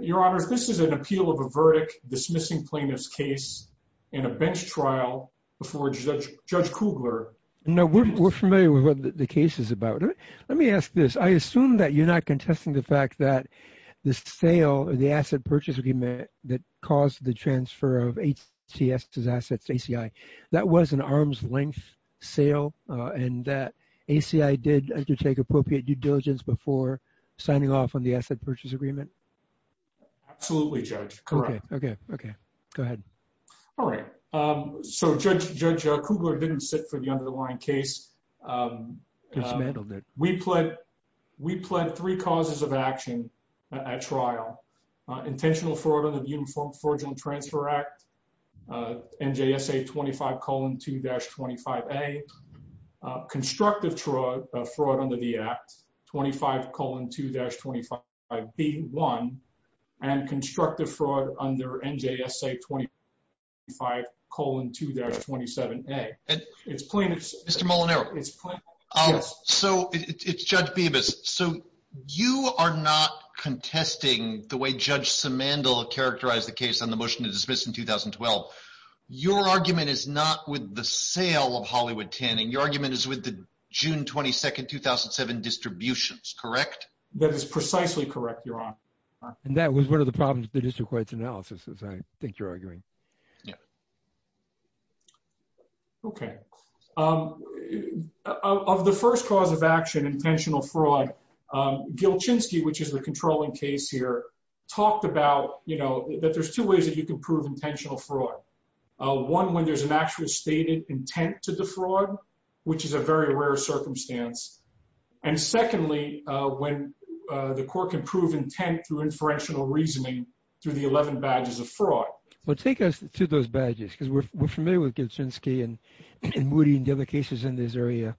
Your honors, this is an appeal of a verdict dismissing plaintiff's case in a bench trial before Judge Kugler. No, we're familiar with what the case is about. Let me ask this. I assume that you're not contesting the fact that the sale of the asset purchase agreement that caused the transfer of HTS's assets to ACI. That was an arm's length sale and that ACI did undertake appropriate due diligence before signing off on the asset purchase agreement. Absolutely, Judge. Correct. Okay, okay, okay. Go ahead. All right. So Judge Kugler didn't sit for the underlying case. Dismantled it. We pled three causes of action at trial. Intentional fraud under the Uniform Forging Transfer Act, NJSA 25 colon 2-25A. Constructive fraud under the act, 25 colon 2-25B1. And constructive fraud under NJSA 25 colon 2-27A. It's plaintiff's. Mr. Molinaro. So it's Judge Bibas. So you are not contesting the way Judge Simandl characterized the case on the motion to dismiss in 2012. Your argument is not with the sale of Hollywood Tanning. Your argument is with the June 22nd, 2007 distributions. Correct? That is precisely correct, Your Honor. And that was one of the problems with the district court's analysis, as I think you're arguing. Yeah. Okay. Of the first cause of action, intentional fraud, Gilchinsky, which is the controlling case here, talked about that there's two ways that you can prove intentional fraud. One, when there's an actually stated intent to defraud, which is a very rare circumstance. And secondly, when the court can prove intent through inferential reasoning through the 11 badges of fraud. Well, take us to those badges, because we're familiar with Gilchinsky and Moody and the other cases in this area.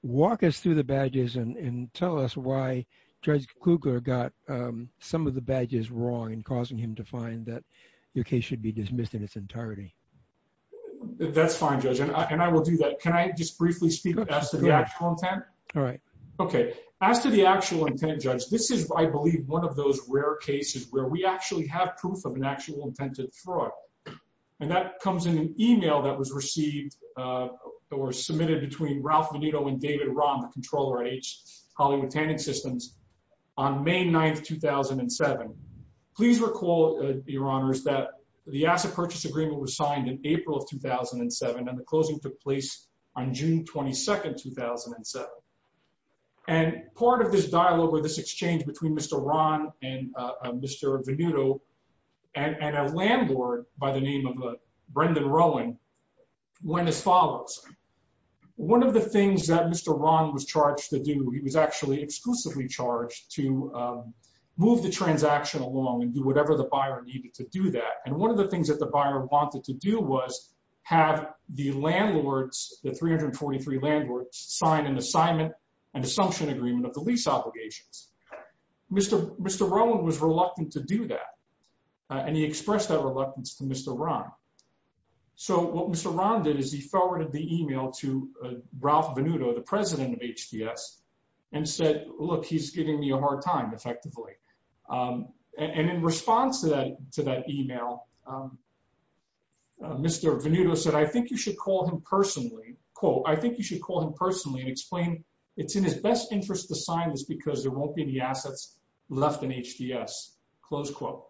Walk us through the badges and tell us why Judge Kugler got some of the badges wrong and causing him to find that your case should be dismissed in its entirety. That's fine, Judge. And I will do that. Can I just briefly speak as to the actual intent? All right. Okay. As to the actual intent, Judge, this is, I believe, one of those rare cases where we actually have proof of an actual intent to defraud. And that comes in an email that was received or submitted between Ralph Veneto and David Rahm, the controller at H. Hollywood Tanning Systems, on May 9th, 2007. Please recall, Your Honors, that the asset purchase agreement was signed in April of 2007, and the closing took place on June 22nd, 2007. And part of this dialogue or this exchange between Mr. Rahm and Mr. Veneto and a landlord by the name of Brendan Rowan went as follows. One of the things that Mr. Rahm was charged to do, he was actually exclusively charged to move the transaction along and do whatever the buyer needed to do that. And one of the things that the buyer wanted to do was have the landlords, the 343 landlords, sign an assignment, an assumption agreement of the lease obligations. Mr. Rowan was reluctant to do that, and he expressed that reluctance to Mr. Rahm. So what Mr. Rahm did is he forwarded the email to Ralph Veneto, the president of HTS, and said, look, he's giving me a hard time, effectively. And in response to that email, Mr. Veneto said, I think you should call him personally, quote, I think you should call him personally and explain it's in his best interest to sign this because there won't be any assets left in HTS, close quote.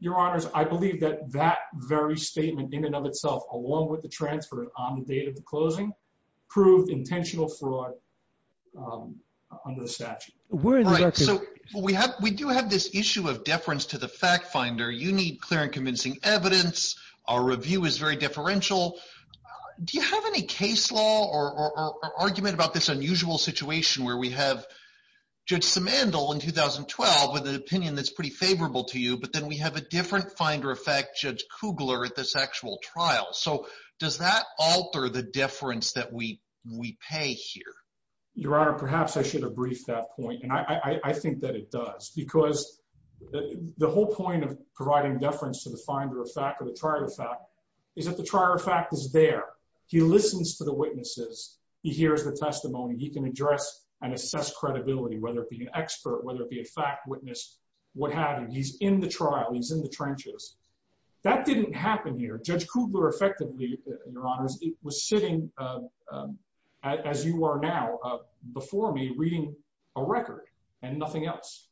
Your Honors, I believe that that very statement in and of itself, along with the transfer on the date of the closing, proved intentional fraud under the statute. We're in the- Right, so we do have this issue of deference to the fact finder. You need clear and convincing evidence. Our review is very differential. Do you have any case law or argument about this unusual situation where we have Judge Simandl in 2012 with an opinion that's pretty favorable to you, but then we have a different finder of fact, Judge Kugler, at this actual trial. So does that alter the deference that we pay here? Your Honor, perhaps I should have briefed that point. And I think that it does because the whole point of providing deference to the finder of fact or the trial of fact is that the trial of fact is there. He listens to the witnesses. He hears the testimony. He can address and assess credibility, whether it be an expert, whether it be a fact witness, what happened. He's in the trial. He's in the trenches. That didn't happen here. Judge Kugler effectively, Your Honors, was sitting as you are now before me reading a record and nothing else.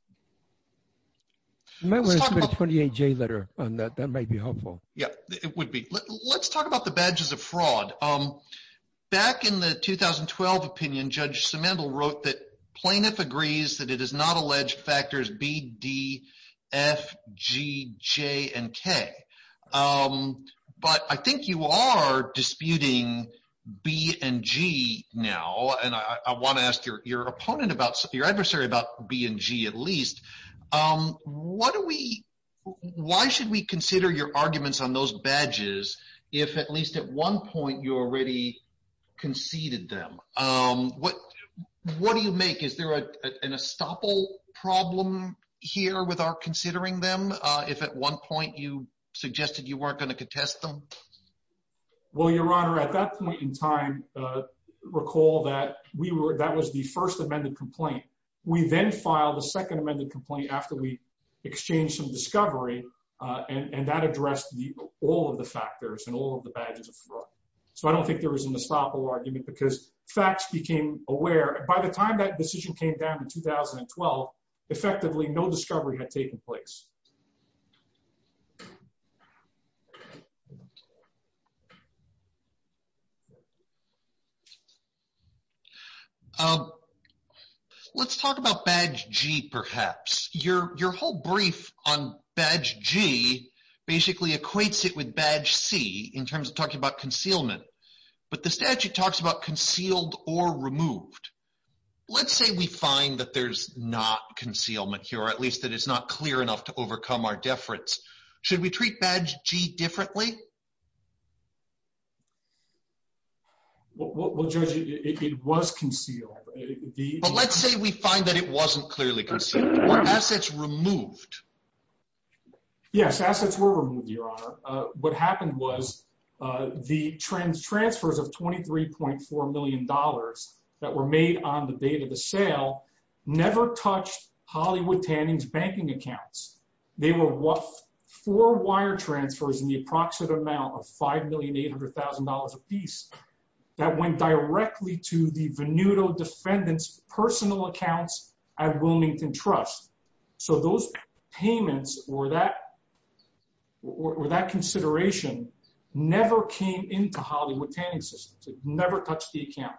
You might want to put a 28-J letter on that. That might be helpful. Yeah, it would be. Let's talk about the badges of fraud. Back in the 2012 opinion, Judge Simandl wrote that plaintiff agrees that it is not alleged factors B, D, F, G, J, and K. But I think you are disputing B and G now. And I want to ask your opponent about, your adversary about B and G at least. Why should we consider your arguments on those badges if at least at one point you already conceded them? What do you make? Is there an estoppel problem here with our considering them? If at one point you suggested you weren't going to contest them? Well, Your Honor, at that point in time, recall that that was the first amended complaint. We then filed a second amended complaint after we exchanged some discovery and that addressed all of the factors and all of the badges of fraud. So I don't think there was an estoppel argument because facts became aware. By the time that decision came down in 2012, effectively no discovery had taken place. Thank you. Let's talk about badge G perhaps. Your whole brief on badge G basically equates it with badge C in terms of talking about concealment. But the statute talks about concealed or removed. Let's say we find that there's not concealment here, or at least that it's not clear enough to overcome our deference. Should we treat badge G differently? Well, Judge, it was concealed. But let's say we find that it wasn't clearly concealed. Were assets removed? Yes, assets were removed, Your Honor. What happened was the transfers of $23.4 million that were made on the date of the sale never touched Hollywood Tanning's banking accounts. They were four wire transfers in the approximate amount of $5,800,000 apiece that went directly to the Venuto Defendant's personal accounts at Wilmington Trust. So those payments, or that consideration, never came into Hollywood Tanning's systems. It never touched the account.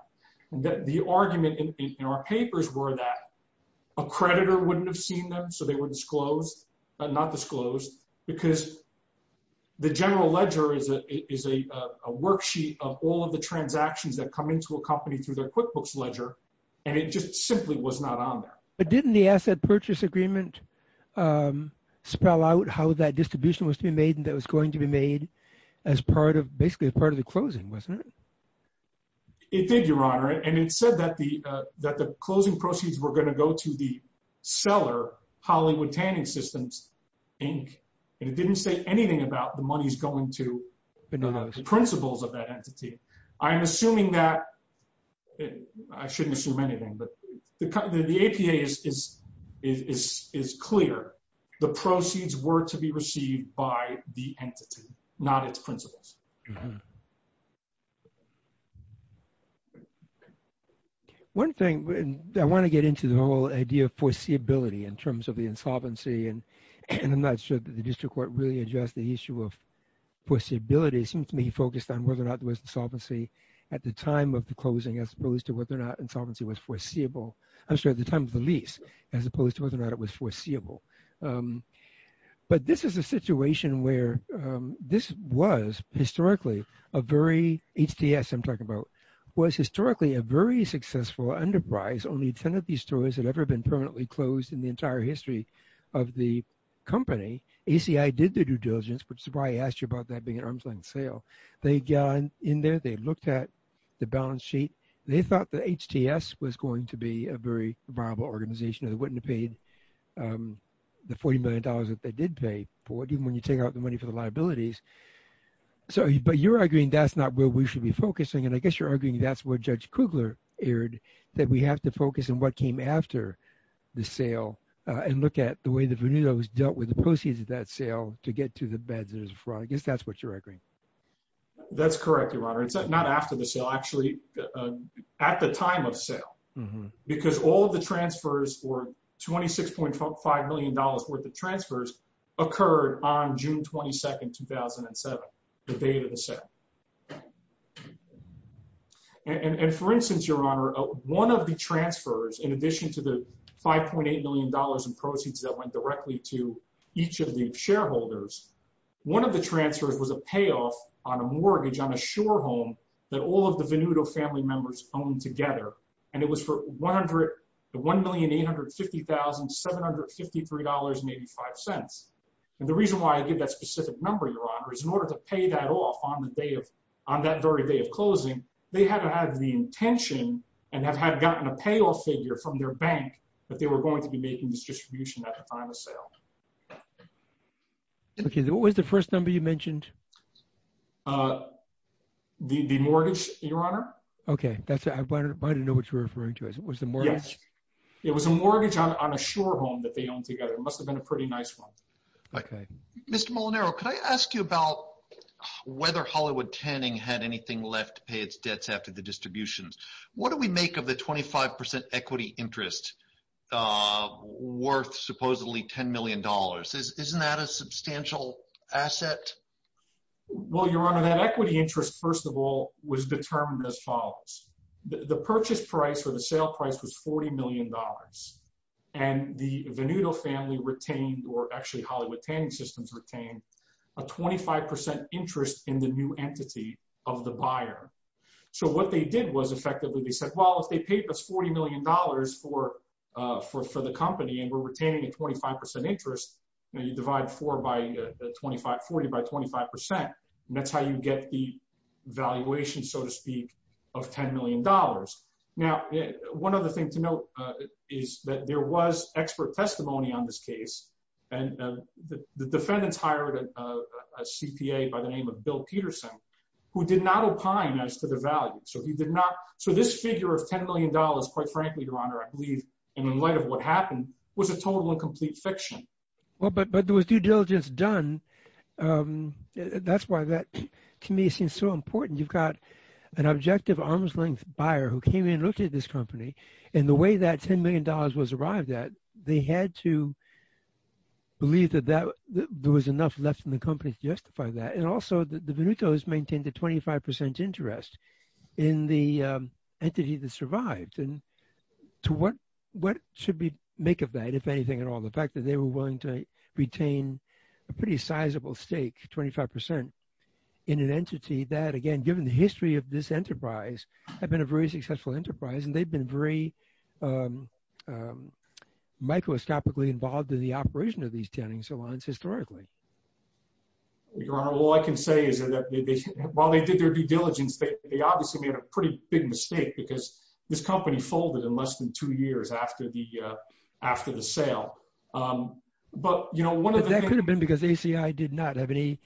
And the argument in our papers were that a creditor wouldn't have seen them, so they were disclosed, not disclosed, because the general ledger is a worksheet of all of the transactions that come into a company through their QuickBooks ledger, and it just simply was not on there. But didn't the Asset Purchase Agreement spell out how that distribution was to be made and that was going to be made as part of, basically, as part of the closing, wasn't it? It did, Your Honor. And it said that the closing proceeds were going to go to the seller, Hollywood Tanning Systems, Inc. And it didn't say anything about the money's going to the principles of that entity. I'm assuming that, I shouldn't assume anything, but the APA is clear. The proceeds were to be received by the entity, not its principles. One thing, I want to get into the whole idea of foreseeability in terms of the insolvency, and I'm not sure that the district court really addressed the issue of foreseeability. It seems to me he focused on whether or not there was insolvency at the time of the closing as opposed to whether or not insolvency was foreseeable. I'm sorry, at the time of the lease, as opposed to whether or not it was foreseeable. But this is a situation where this was, historically, a very, HTS I'm talking about, was historically a very successful enterprise. Only 10 of these stores had ever been permanently closed in the entire history of the company. ACI did their due diligence, which is why I asked you about that being an arm's length sale. They got in there, they looked at the balance sheet. They thought that HTS was going to be a very viable organization and they wouldn't have paid the $40 million that they did pay for it. And when you take out the money for the liabilities. So, but you're arguing that's not where we should be focusing. And I guess you're arguing that's where Judge Kugler erred that we have to focus on what came after the sale and look at the way the Veneto's dealt with the proceeds of that sale to get to the beds and there's fraud. I guess that's what you're arguing. That's correct, Your Honor. It's not after the sale, actually at the time of sale. Because all of the transfers were $26.5 million worth of transfers occurred on June 22nd, 2007, the date of the sale. And for instance, Your Honor, one of the transfers in addition to the $5.8 million in proceeds that went directly to each of the shareholders, one of the transfers was a payoff on a mortgage on a shore home that all of the Veneto family members owned together. And it was for the $1,850,753.85. And the reason why I give that specific number, Your Honor, is in order to pay that off on that very day of closing, they had to have the intention and have had gotten a payoff figure from their bank that they were going to be making this distribution at the time of sale. The mortgage, Your Honor. Okay, that's it. I didn't know what you were referring to. It was the mortgage? Yes, it was a mortgage on a shore home that they owned together. It must've been a pretty nice one. Okay. Mr. Molinaro, could I ask you about whether Hollywood Tanning had anything left to pay its debts after the distributions? What do we make of the 25% equity interest worth supposedly $10 million? Isn't that a substantial asset? Well, Your Honor, that equity interest, first of all, was determined as follows. The purchase price or the sale price was $40 million. And the Venuto family retained, or actually Hollywood Tanning Systems retained, a 25% interest in the new entity of the buyer. So what they did was effectively they said, well, if they paid us $40 million for the company and we're retaining a 25% interest, and you divide 40 by 25%, that's how you get the valuation, so to speak, of $10 million. Now, one other thing to note is that there was expert testimony on this case. And the defendants hired a CPA by the name of Bill Peterson who did not opine as to the value. So he did not. So this figure of $10 million, quite frankly, Your Honor, I believe, in light of what happened, was a total and complete fiction. Well, but there was due diligence done. And that's why that, to me, seems so important. You've got an objective arm's length buyer who came in and looked at this company. And the way that $10 million was arrived at, they had to believe that there was enough left in the company to justify that. And also the Venutos maintained a 25% interest in the entity that survived. And to what should we make of that, if anything at all, the fact that they were willing to retain a pretty sizable stake, 25%, in an entity that, again, given the history of this enterprise, had been a very successful enterprise and they've been very microscopically involved in the operation of these tanning salons historically. Your Honor, all I can say is that while they did their due diligence, they obviously made a pretty big mistake because this company folded in less than two years after the sale. But one of the- That could have been because ACI did not have any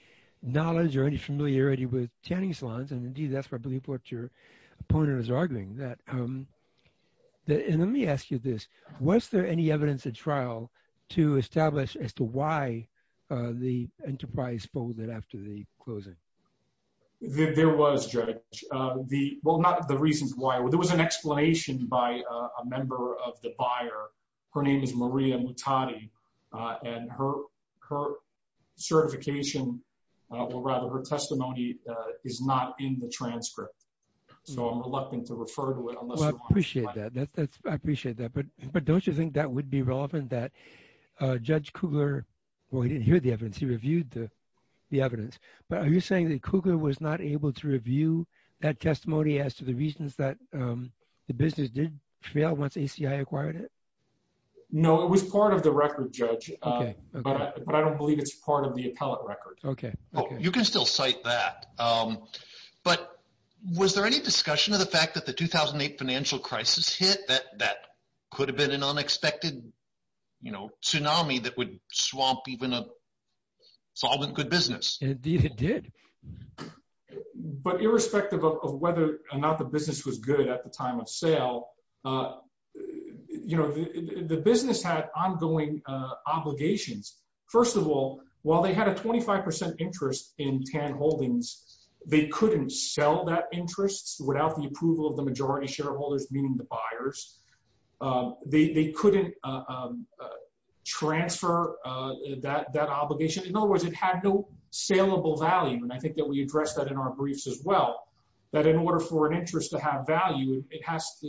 knowledge or any familiarity with tanning salons. And indeed, that's probably what your opponent is arguing, that, and let me ask you this. Was there any evidence at trial to establish as to why the enterprise folded after the closing? There was, Judge, well, not the reasons why. There was an explanation by a member of the buyer. Her name is Maria Mutati, and her certification, or rather her testimony, is not in the transcript. So I'm reluctant to refer to it unless- Well, I appreciate that. I appreciate that. But don't you think that would be relevant that Judge Kugler, well, he didn't hear the evidence. He reviewed the evidence. But are you saying that Kugler was not able to review that testimony as to the reasons that the business did fail once ACI acquired it? No, it was part of the record, Judge. But I don't believe it's part of the appellate record. You can still cite that. But was there any discussion of the fact that the 2008 financial crisis hit that that could have been an unexpected tsunami that would swamp even a solvent good business? Indeed, it did. But irrespective of whether or not the business was good at the time of sale, the business had ongoing obligations. First of all, while they had a 25% interest in Tann Holdings, they couldn't sell that interest without the approval of the majority shareholders, meaning the buyers. They couldn't transfer that obligation. In other words, it had no saleable value. And I think that we addressed that in our briefs as well, that in order for an interest to have value, it has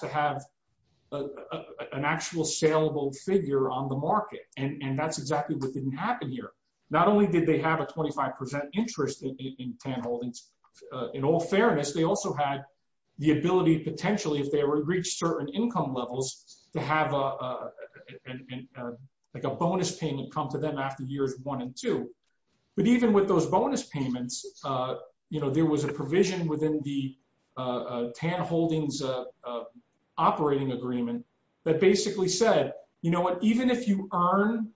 to have an actual saleable figure on the market. And that's exactly what didn't happen here. Not only did they have a 25% interest in Tann Holdings, in all fairness, they also had the ability potentially if they were to reach certain income levels to have like a bonus payment come to them after years one and two. But even with those bonus payments, there was a provision within the Tann Holdings operating agreement that basically said, even if you earn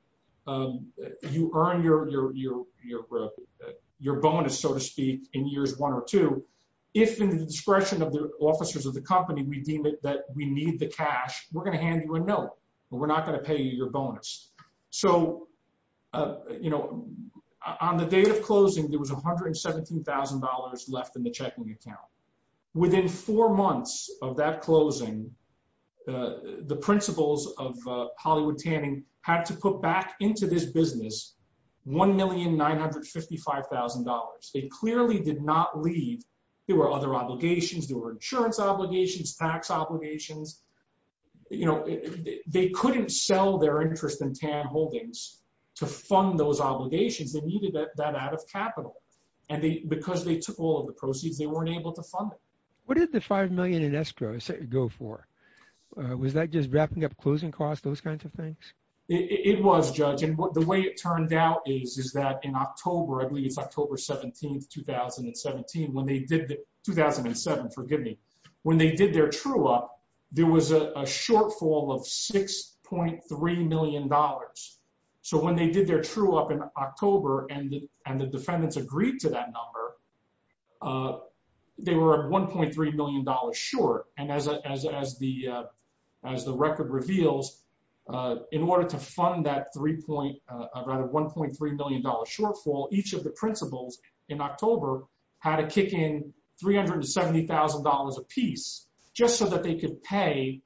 your bonus, so to speak, in years one or two, if in the discretion of the officers of the company, we deem it that we need the cash, we're gonna hand you a note, but we're not gonna pay you your bonus. So on the date of closing, there was $117,000 left in the checking account. Within four months of that closing, the principals of Hollywood Tanning had to put back into this business $1,955,000. They clearly did not leave. There were other obligations. There were insurance obligations, tax obligations. They couldn't sell their interest in Tann Holdings to fund those obligations. They needed that out of capital. And because they took all of the proceeds, they weren't able to fund it. What did the 5 million in escrow go for? Was that just wrapping up closing costs, those kinds of things? It was, Judge. And the way it turned out is that in October, I believe it's October 17th, 2017, when they did the, 2007, forgive me, when they did their true up, there was a shortfall of $6.3 million. So when they did their true up in October and the defendants agreed to that number, they were at $1.3 million short. And as the record reveals, in order to fund that rather $1.3 million shortfall, each of the principals in October had to kick in $370,000 a piece just so that they could pay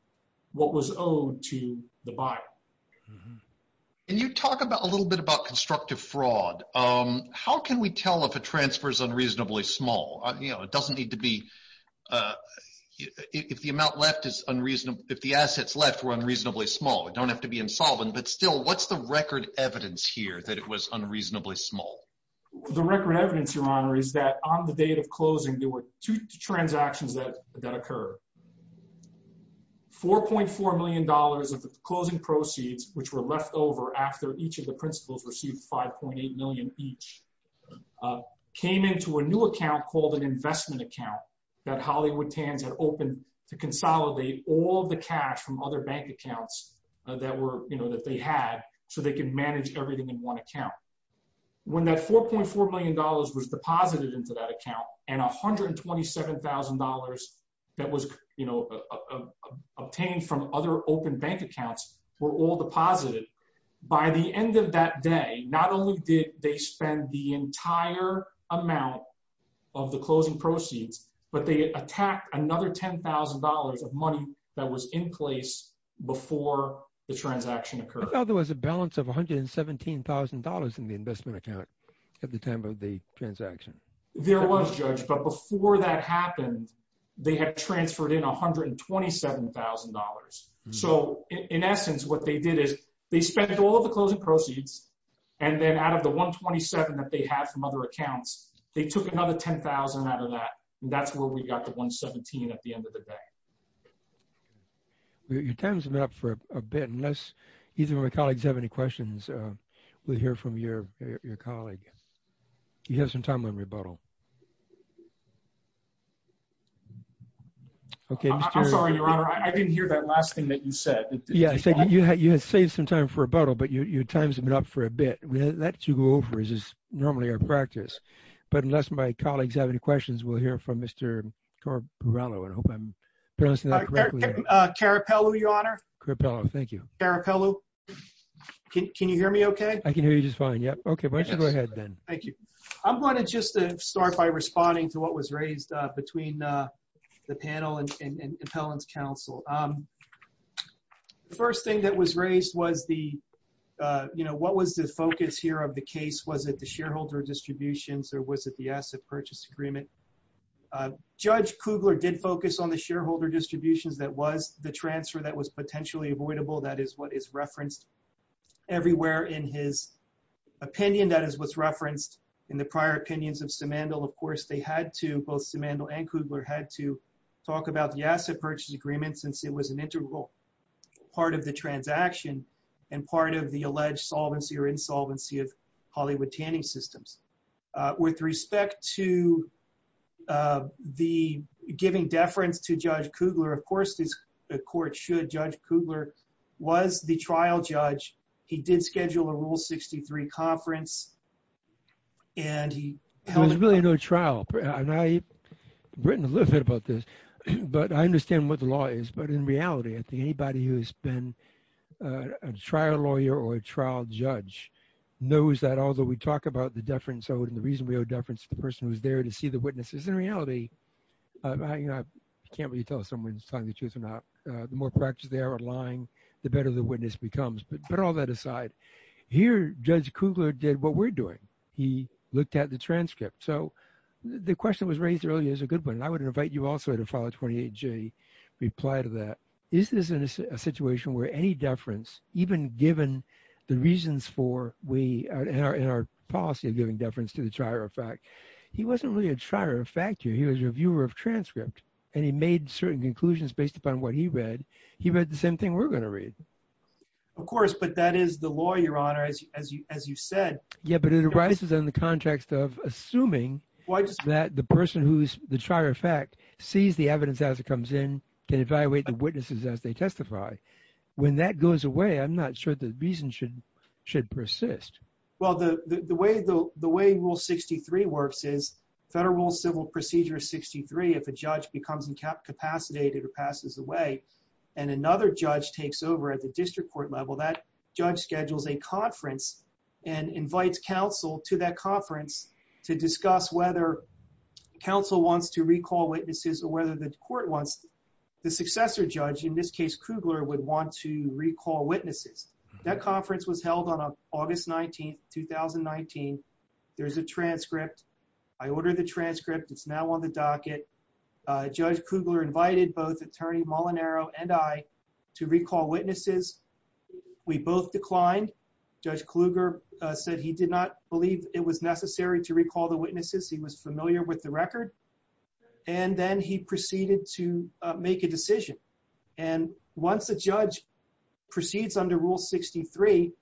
what was owed to the buyer. And you talk about a little bit about constructive fraud. How can we tell if a transfer is unreasonably small? It doesn't need to be, if the amount left is unreasonable, if the assets left were unreasonably small, it don't have to be insolvent, but still what's the record evidence here that it was unreasonably small? The record evidence, Your Honor, is that on the date of closing, there were two transactions that occurred. $4.4 million of the closing proceeds, which were left over after each of the principals received 5.8 million each, came into a new account called an investment account that Hollywood Tans had opened to consolidate all the cash from other bank accounts that they had so they can manage everything in one account. When that $4.4 million was deposited into that account and $127,000 that was obtained from other open bank accounts were all deposited, by the end of that day, not only did they spend the entire amount of the closing proceeds, but they attacked another $10,000 of money that was in place before the transaction occurred. Who thought there was a balance of $117,000 in the investment account at the time of the transaction? There was, Judge, but before that happened, they had transferred in $127,000. So in essence, what they did is they spent all of the closing proceeds and then out of the 127 that they had from other accounts, they took another 10,000 out of that and that's where we got the 117 at the end of the day. Your time's been up for a bit, unless either of my colleagues have any questions, we'll hear from your colleague. You have some time on rebuttal. Okay, Mr.- I'm sorry, Your Honor, I didn't hear that last thing that you said. Yeah, I said you had saved some time for rebuttal, but your time's been up for a bit. That you go over is normally our practice, but unless my colleagues have any questions, we'll hear from Mr. Corporello, I hope I'm pronouncing that correctly. Carapello, Your Honor. Corporello, thank you. Carapello, can you hear me okay? I can hear you just fine, yep. Okay, why don't you go ahead then. Thank you. I'm gonna just start by responding to what was raised between the panel and appellant's counsel. The first thing that was raised was the, what was the focus here of the case? Was it the shareholder distributions or was it the asset purchase agreement? Judge Kugler did focus on the shareholder distributions that was the transfer that was potentially avoidable. That is what is referenced everywhere in his opinion. That is what's referenced in the prior opinions of Simandl. Of course, they had to, both Simandl and Kugler had to talk about the asset purchase agreement since it was an integral part of the transaction and part of the alleged solvency or insolvency of Hollywood tanning systems. With respect to the giving deference to Judge Kugler, of course, the court should, Judge Kugler was the trial judge. He did schedule a rule 63 conference and he held- There's really no trial. And I've written a little bit about this, but I understand what the law is. But in reality, I think anybody who's been a trial lawyer or a trial judge knows that although we talk about the deference owed and the reason we owe deference to the person who's there to see the witnesses, in reality, I can't really tell if someone's telling the truth or not, the more practice they are lying, the better the witness becomes. But put all that aside. Here, Judge Kugler did what we're doing. He looked at the transcript. So the question that was raised earlier is a good one. And I would invite you also to follow 28J reply to that. Is this a situation where any deference, even given the reasons for, in our policy of giving deference to the trier of fact, he wasn't really a trier of fact here. He was a reviewer of transcript and he made certain conclusions based upon what he read. He read the same thing we're gonna read. Of course, but that is the law, Your Honor, as you said. Yeah, but it arises in the context of assuming that the person who's the trier of fact sees the evidence as it comes in, can evaluate the witnesses as they testify. When that goes away, I'm not sure the reason should persist. Well, the way Rule 63 works is, Federal Civil Procedure 63, if a judge becomes incapacitated or passes away and another judge takes over at the district court level, that judge schedules a conference and invites counsel to that conference to discuss whether counsel wants to recall witnesses or whether the court wants the successor judge, in this case, Kugler would want to recall witnesses. That conference was held on August 19th, 2019. There's a transcript. I ordered the transcript. It's now on the docket. Judge Kugler invited both Attorney Molinaro and I to recall witnesses. We both declined. Judge Kluger said he did not believe it was necessary to recall the witnesses. He was familiar with the record. And then he proceeded to make a decision. And once a judge proceeds under Rule 63,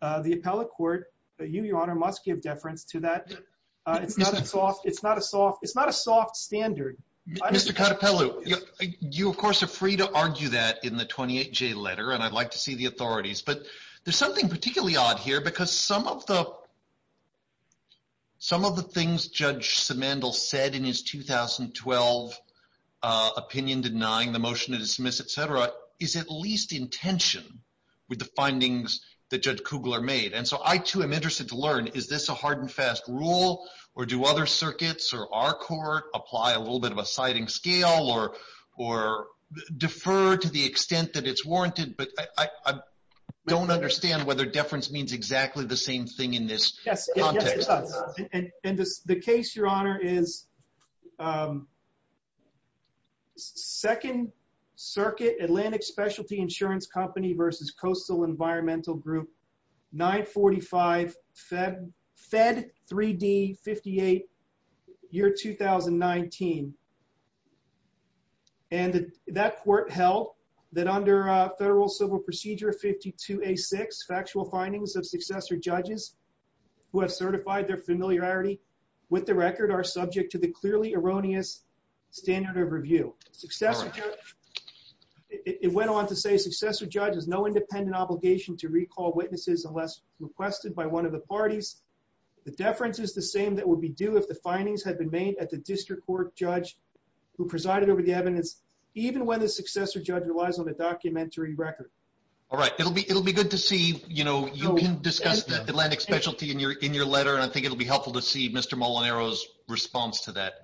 the appellate court, you, Your Honor, must give deference to that. It's not a soft standard. Mr. Catepelle, you, of course, are free to argue that in the 28J letter, and I'd like to see the authorities, but there's something particularly odd here because some of the things Judge Simandl said in his 2012 opinion denying the motion to dismiss, et cetera, is at least in tension with the findings that Judge Kugler made. And so I, too, am interested to learn, is this a hard and fast rule, or do other circuits or our court apply a little bit of a siding scale or defer to the extent that it's warranted? But I don't understand whether deference means exactly the same thing in this context. And the case, Your Honor, is Second Circuit Atlantic Specialty Insurance Company versus Coastal Environmental Group, 945 Fed 3D 58, year 2019. And that court held that under Federal Civil Procedure 52A6, factual findings of successor judges who have certified their familiarity with the record are subject to the clearly erroneous standard of review. It went on to say, successor judge has no independent obligation to recall witnesses unless requested by one of the parties. The deference is the same that would be due if the findings had been made at the district court judge who presided over the evidence, even when the successor judge relies on a documentary record. All right, it'll be good to see, you can discuss the Atlantic Specialty in your letter, and I think it'll be helpful to see Mr. Molinaro's response to that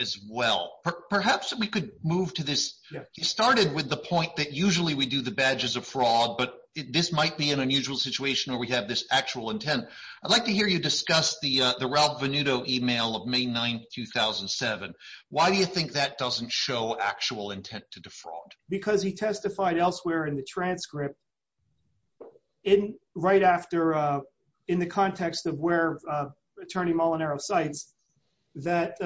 as well. Perhaps we could move to this. You started with the point that usually we do the badges of fraud, but this might be an unusual situation where we have this actual intent. I'd like to hear you discuss the Ralph Venuto email of May 9th, 2007. Why do you think that doesn't show actual intent to defraud? Because he testified elsewhere in the transcript in right after, in the context of where Attorney Molinaro cites, that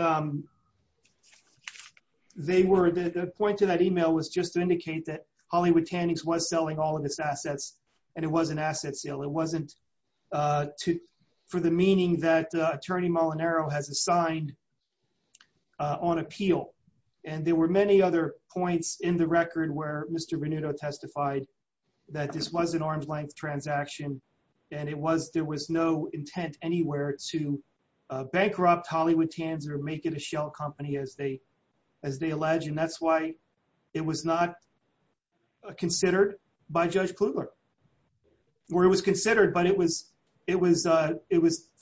they were, the point to that email was just to indicate that Hollywood Tannings was selling all of its assets, and it was an asset sale. It wasn't for the meaning that Attorney Molinaro has assigned on appeal. And there were many other points in the record where Mr. Venuto testified that this was an arm's length transaction, and it was, there was no intent anywhere to bankrupt Hollywood Tannings or make it a shell company as they allege, and that's why it was not considered by Judge Kluger. Well, it was considered, but it was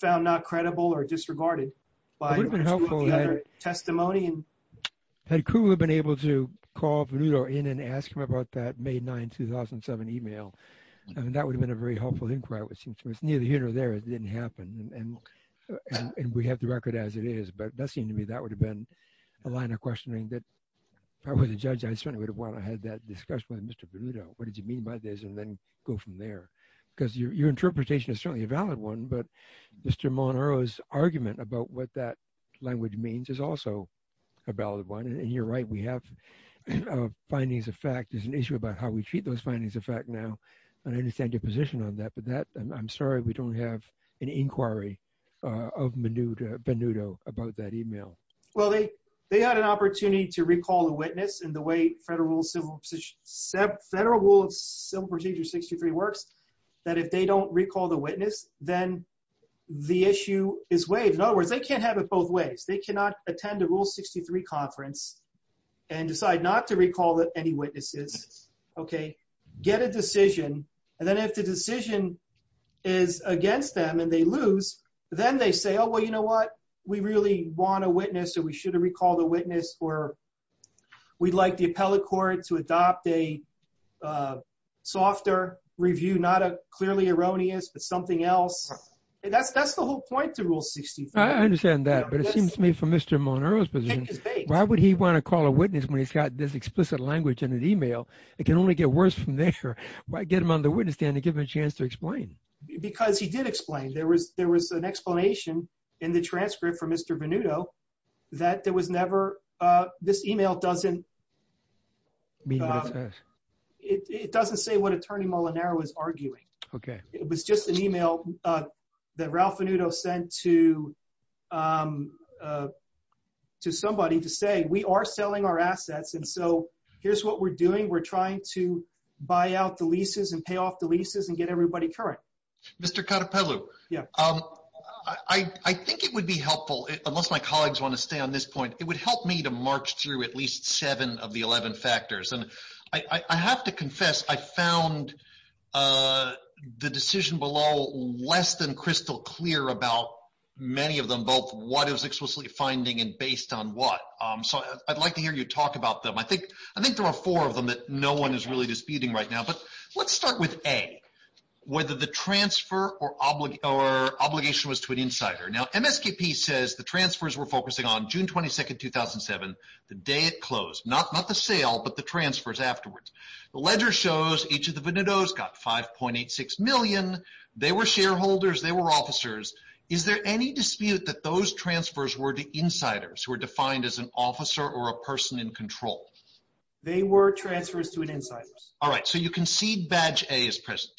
found not credible or disregarded by the two of the other testimony. Had Kluger been able to call Venuto in and ask him about that May 9th, 2007 email, I mean, that would have been a very helpful inquiry, which was neither here nor there. It didn't happen, and we have the record as it is, but that seemed to me, that would have been a line of questioning that probably the judge, I certainly would have wanted to have that discussion with Mr. Venuto. What did you mean by this? And then go from there, because your interpretation is certainly a valid one, but Mr. Monoro's argument about what that language means is also a valid one, and you're right. We have findings of fact. There's an issue about how we treat those findings of fact now, and I understand your position on that, but that, I'm sorry, we don't have an inquiry of Venuto about that email. Well, they had an opportunity to recall the witness in the way Federal Rule of Civil Procedure 63 works, that if they don't recall the witness, then the issue is waived. In other words, they can't have it both ways. They cannot attend a Rule 63 conference and decide not to recall any witnesses, get a decision, and then if the decision is against them and they lose, then they say, oh, well, you know what? We really want a witness, or we should have recalled a witness, or we'd like the appellate court to adopt a softer review, not a clearly erroneous, but something else. That's the whole point to Rule 63. I understand that, but it seems to me from Mr. Molinaro's position, why would he want to call a witness when he's got this explicit language in an email? It can only get worse from there. Why get him on the witness stand and give him a chance to explain? Because he did explain. There was an explanation in the transcript for Mr. Venuto that there was never, this email doesn't, it doesn't say what Attorney Molinaro is arguing. It was just an email that Ralph Venuto sent to somebody to say, we are selling our assets, and so here's what we're doing. We're trying to buy out the leases and pay off the leases and get everybody current. Mr. Carapello, I think it would be helpful, unless my colleagues want to stay on this point, it would help me to march through at least seven of the 11 factors. I have to confess, I found the decision below less than crystal clear about many of them, both what it was explicitly finding and based on what. So I'd like to hear you talk about them. I think there are four of them that no one is really disputing right now, but let's start with A, whether the transfer or obligation was to an insider. Now, MSKP says the transfers were focusing on June 22nd, 2007, the day it closed. Not the sale, but the transfers afterwards. The ledger shows each of the Venutos got 5.86 million. They were shareholders, they were officers. Is there any dispute that those transfers were to insiders who were defined as an officer or a person in control? They were transfers to an insider. All right, so you concede badge A is present.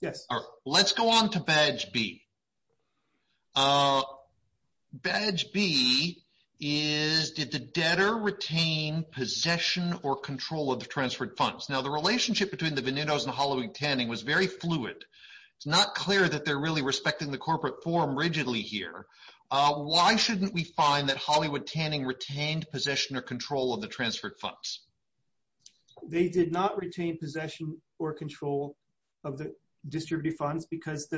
Yes. All right, let's go on to badge B. Badge B is, did the debtor retain possession or control of the transferred funds? Now, the relationship between the Venutos and Hollywood Tanning was very fluid. It's not clear that they're really respecting the corporate form rigidly here. Why shouldn't we find that Hollywood Tanning retained possession or control of the transferred funds? They did not retain possession or control of the distributed funds because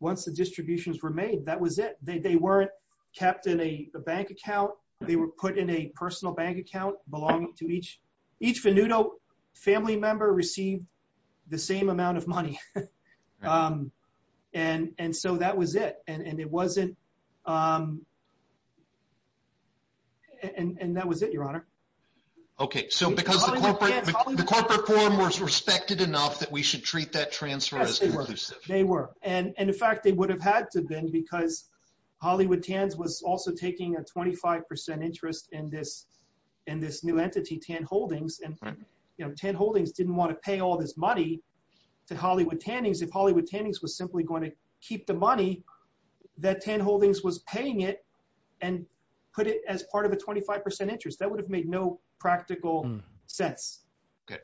once the distributions were made, that was it. They weren't kept in a bank account. They were put in a personal bank account belonging to each. Each Venuto family member received the same amount of money. And so that was it. And it wasn't, and that was it, Your Honor. Okay, so because the corporate form was respected enough that we should treat that transfer as conclusive. They were. And in fact, they would have had to been because Hollywood Tans was also taking a 25% interest in this new entity, Tan Holdings. And Tan Holdings didn't wanna pay all this money to Hollywood Tannings if Hollywood Tannings was simply gonna keep the money that Tan Holdings was paying it and put it as part of a 25% interest. That would have made no practical sense. Okay,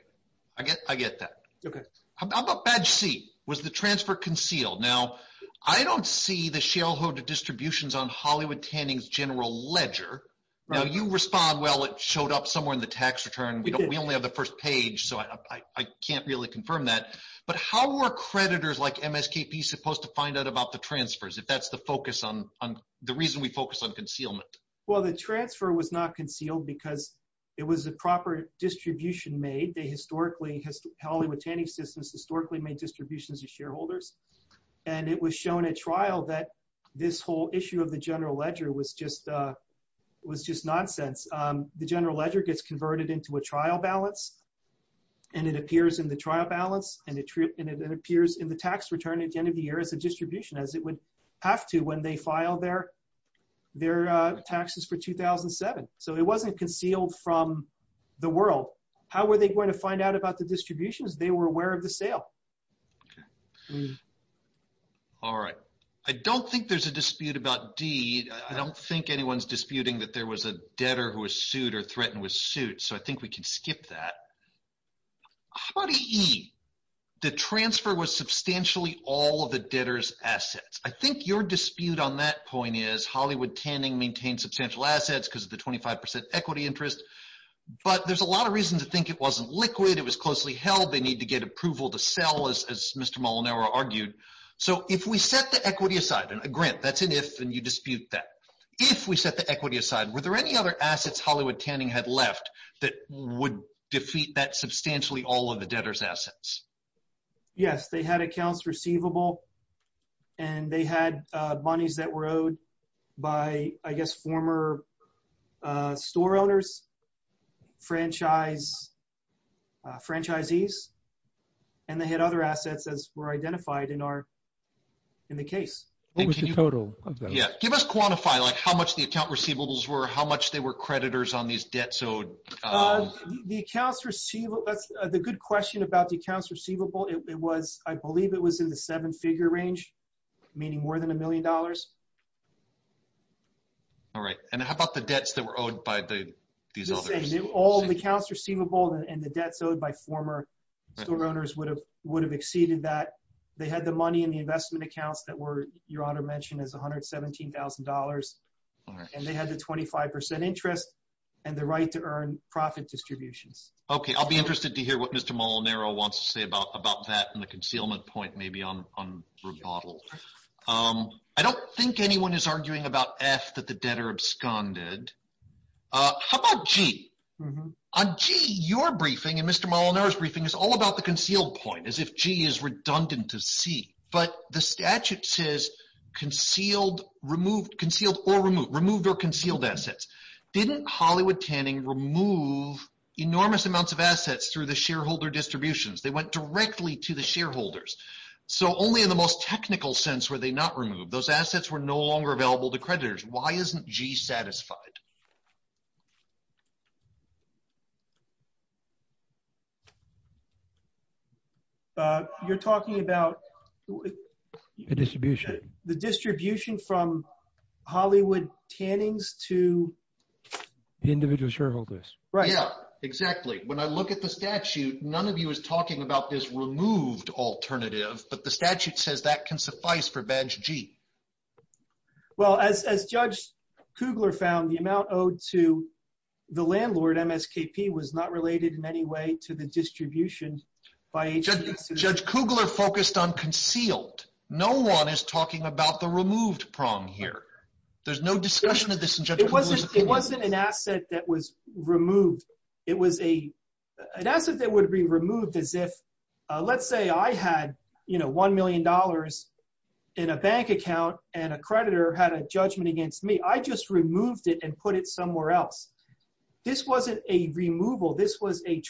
I get that. Okay. How about badge C? Was the transfer concealed? Now, I don't see the shareholder distributions on Hollywood Tannings general ledger. Now you respond, well, it showed up somewhere in the tax return. We only have the first page, so I can't really confirm that. But how were creditors like MSKP supposed to find out about the transfers if that's the focus on, the reason we focus on concealment? Well, the transfer was not concealed because it was a proper distribution made. They historically, Hollywood Tanning systems historically made distributions to shareholders. And it was shown at trial that this whole issue of the general ledger was just nonsense. The general ledger gets converted into a trial balance and it appears in the trial balance and it appears in the tax return at the end of the year as a distribution as it would have to when they filed their taxes for 2007. So it wasn't concealed from the world. How were they going to find out about the distributions? They were aware of the sale. All right. I don't think there's a dispute about D. I don't think anyone's disputing that there was a debtor who was sued or threatened with suit. So I think we can skip that. How about E, the transfer was substantially all of the debtors assets. I think your dispute on that point is Hollywood Tanning maintained substantial assets because of the 25% equity interest. But there's a lot of reasons to think it wasn't liquid. It was closely held. They need to get approval to sell as Mr. Molinaro argued. So if we set the equity aside and a grant, that's an if and you dispute that. If we set the equity aside, were there any other assets Hollywood Tanning had left that would defeat that substantially all of the debtors assets? Yes, they had accounts receivable and they had monies that were owed by, I guess, former store owners, franchisees, and they had other assets as were identified in the case. What was the total of those? Yeah, give us quantify like how much the account receivables were, how much they were creditors on these debts owed. The accounts receivable, that's the good question about the accounts receivable. It was, I believe it was in the seven figure range, meaning more than a million dollars. All right, and how about the debts that were owed by these others? All the accounts receivable and the debts owed by former store owners would have exceeded that. They had the money in the investment accounts that were your honor mentioned as $117,000. And they had the 25% interest and the right to earn profit distributions. Okay, I'll be interested to hear what Mr. Molinaro wants to say about that and the concealment point maybe on rebuttal. I don't think anyone is arguing about F that the debtor absconded. How about G? On G, your briefing and Mr. Molinaro's briefing is all about the concealed point as if G is redundant to C. But the statute says concealed, removed, concealed or removed, removed or concealed assets. Didn't Hollywood Tanning remove enormous amounts of assets through the shareholder distributions? They went directly to the shareholders. So only in the most technical sense were they not removed. Those assets were no longer available to creditors. Why isn't G satisfied? You're talking about- The distribution. The distribution from Hollywood Tannings to- The individual shareholders. Right. Yeah, exactly. When I look at the statute, none of you is talking about this removed alternative, but the statute says that can suffice for badge G. Well, as Judge Kugler found, the amount owed to the landlord, MSKP, was not related in any way to the distribution by- Judge Kugler focused on concealed. No one is talking about the removed prong here. There's no discussion of this in Judge Kugler's opinion. It wasn't an asset that was removed. It was an asset that would be removed as if, let's say I had, you know, $1 million in a bank account and a creditor had a judgment against me. I just removed it and put it somewhere else. This wasn't a removal. This was a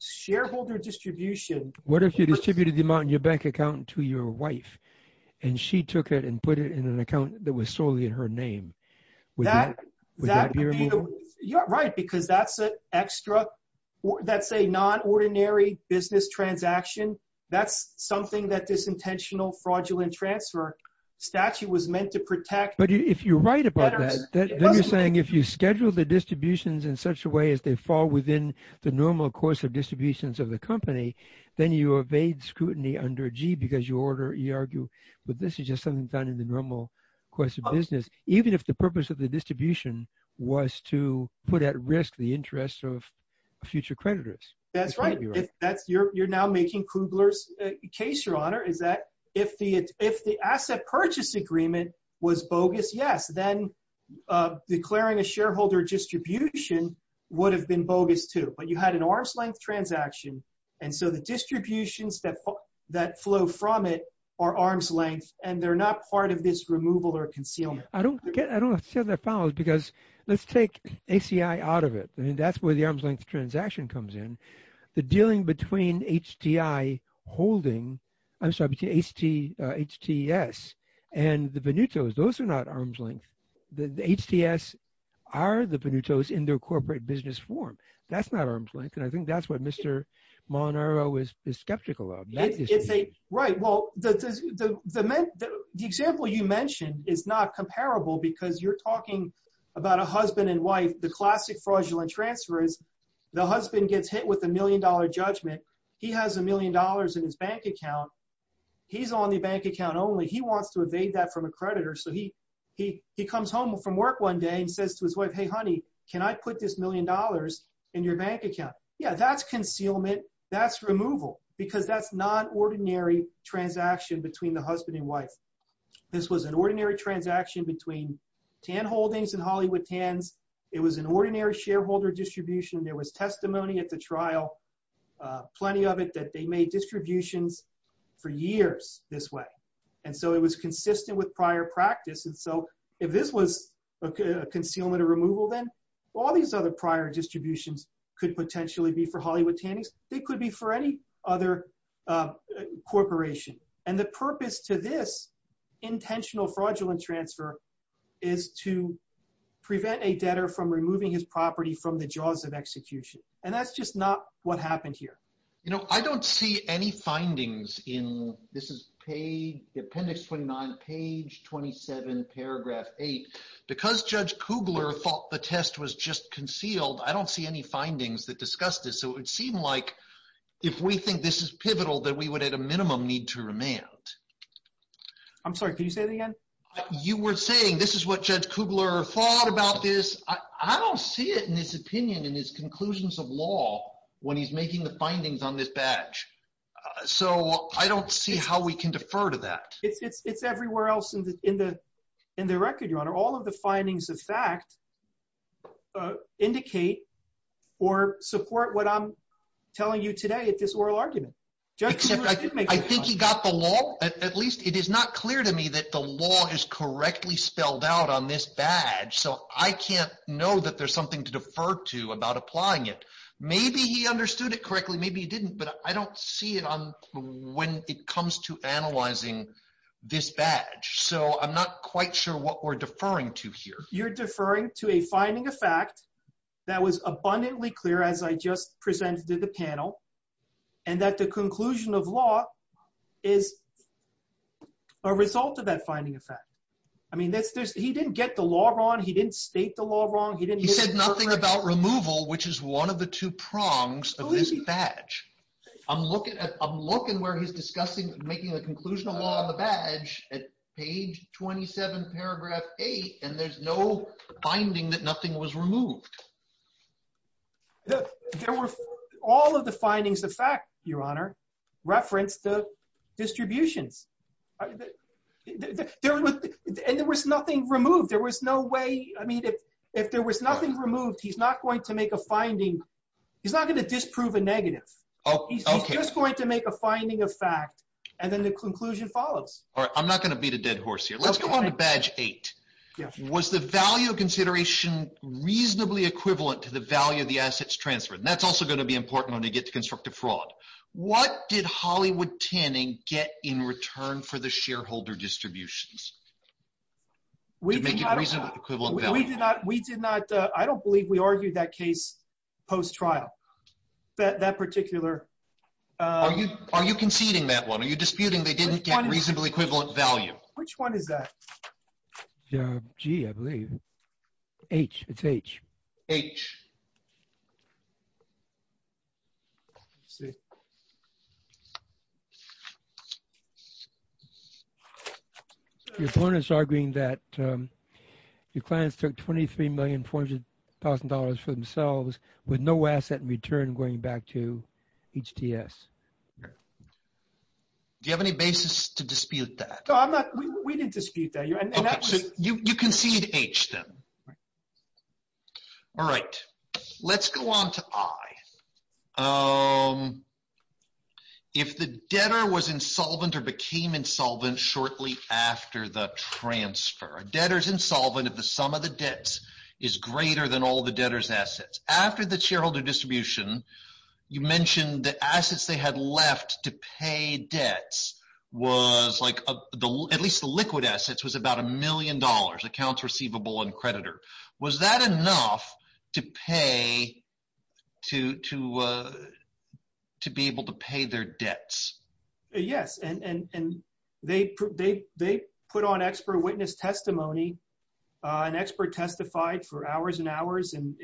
shareholder distribution. What if you distributed the amount in your bank account to your wife and she took it and put it in an account that was solely in her name? Would that be a removal? Right, because that's an extra, that's a non-ordinary business transaction. That's something that this intentional fraudulent transfer statute was meant to protect. But if you're right about that, then you're saying if you schedule the distributions in such a way as they fall within the normal course of distributions of the company, then you evade scrutiny under G because you argue, but this is just something done in the normal course of business. Even if the purpose of the distribution was to put at risk the interests of future creditors. That's right. You're now making Kugler's case, Your Honor, is that if the asset purchase agreement was bogus, yes, then declaring a shareholder distribution would have been bogus too. But you had an arm's length transaction. And so the distributions that flow from it are arm's length and they're not part of this removal or concealment. I don't get, I don't understand that follows because let's take ACI out of it. I mean, that's where the arm's length transaction comes in. The dealing between HTI holding, I'm sorry, HTS and the Venuto's, those are not arm's length. The HTS are the Venuto's in their corporate business form. That's not arm's length. And I think that's what Mr. Molinaro is skeptical of. It's a, right. Well, the example you mentioned is not comparable because you're talking about a husband and wife. The classic fraudulent transfer is the husband gets hit with a million dollar judgment. He has a million dollars in his bank account. He's on the bank account only. He wants to evade that from a creditor. So he comes home from work one day and says to his wife, hey, honey, can I put this million dollars in your bank account? Yeah, that's concealment, that's removal because that's not ordinary transaction between the husband and wife. This was an ordinary transaction between TAN Holdings and Hollywood TANs. It was an ordinary shareholder distribution. There was testimony at the trial, plenty of it that they made distributions for years this way. And so it was consistent with prior practice. And so if this was a concealment or removal, then all these other prior distributions could potentially be for Hollywood TANs. They could be for any other corporation. And the purpose to this intentional fraudulent transfer is to prevent a debtor from removing his property from the jaws of execution. And that's just not what happened here. You know, I don't see any findings in, this is page, appendix 29, page 27, paragraph eight. Because Judge Kugler thought the test was just concealed, I don't see any findings that discussed this. So it would seem like if we think this is pivotal, that we would at a minimum need to remand. I'm sorry, can you say that again? You were saying, this is what Judge Kugler thought about this. I don't see it in his opinion, in his conclusions of law, when he's making the findings on this badge. So I don't see how we can defer to that. It's everywhere else in the record, Your Honor. All of the findings of fact, indicate or support what I'm telling you today at this oral argument. Judge Kugler did make- I think he got the law, at least it is not clear to me that the law is correctly spelled out on this badge. So I can't know that there's something to defer to about applying it. Maybe he understood it correctly, maybe he didn't, but I don't see it on when it comes to analyzing this badge. So I'm not quite sure what we're deferring to here. You're deferring to a finding of fact that was abundantly clear as I just presented to the panel, and that the conclusion of law is a result of that finding of fact. I mean, he didn't get the law wrong. He didn't state the law wrong. He didn't- He said nothing about removal, which is one of the two prongs of this badge. I'm looking where he's discussing making the conclusion of law on the badge at page 27, paragraph eight, and there's no finding that nothing was removed. There were all of the findings of fact, Your Honor, referenced the distributions. And there was nothing removed. There was no way, I mean, if there was nothing removed, he's not going to make a finding. He's not gonna disprove a negative. He's just going to make a finding of fact, and then the conclusion follows. All right, I'm not gonna beat a dead horse here. Let's go on to badge eight. Yeah. Was the value of consideration reasonably equivalent to the value of the assets transferred? And that's also gonna be important when they get to constructive fraud. What did Hollywood Tinning get in return for the shareholder distributions? We did not- To make it reasonably equivalent value. We did not, we did not, I don't believe we argued that case post-trial. That particular- Are you conceding that one? Are you disputing they didn't get reasonably equivalent value? Which one is that? G, I believe. H, it's H. H. Let's see. Your point is arguing that your clients took $23,400,000 for themselves with no asset in return going back to HTS. Do you have any basis to dispute that? No, I'm not, we didn't dispute that. You concede H then. All right, let's go on to I. If the debtor was insolvent or became insolvent shortly after the transfer. A debtor's insolvent if the sum of the debts is greater than all the debtor's assets. After the shareholder distribution, you mentioned the assets they had left to pay debts was like, at least the liquid assets was about a million dollars, accounts receivable and creditor. Was that enough to pay, to be able to pay their debts? Yes, and they put on expert witness testimony. An expert testified for hours and hours and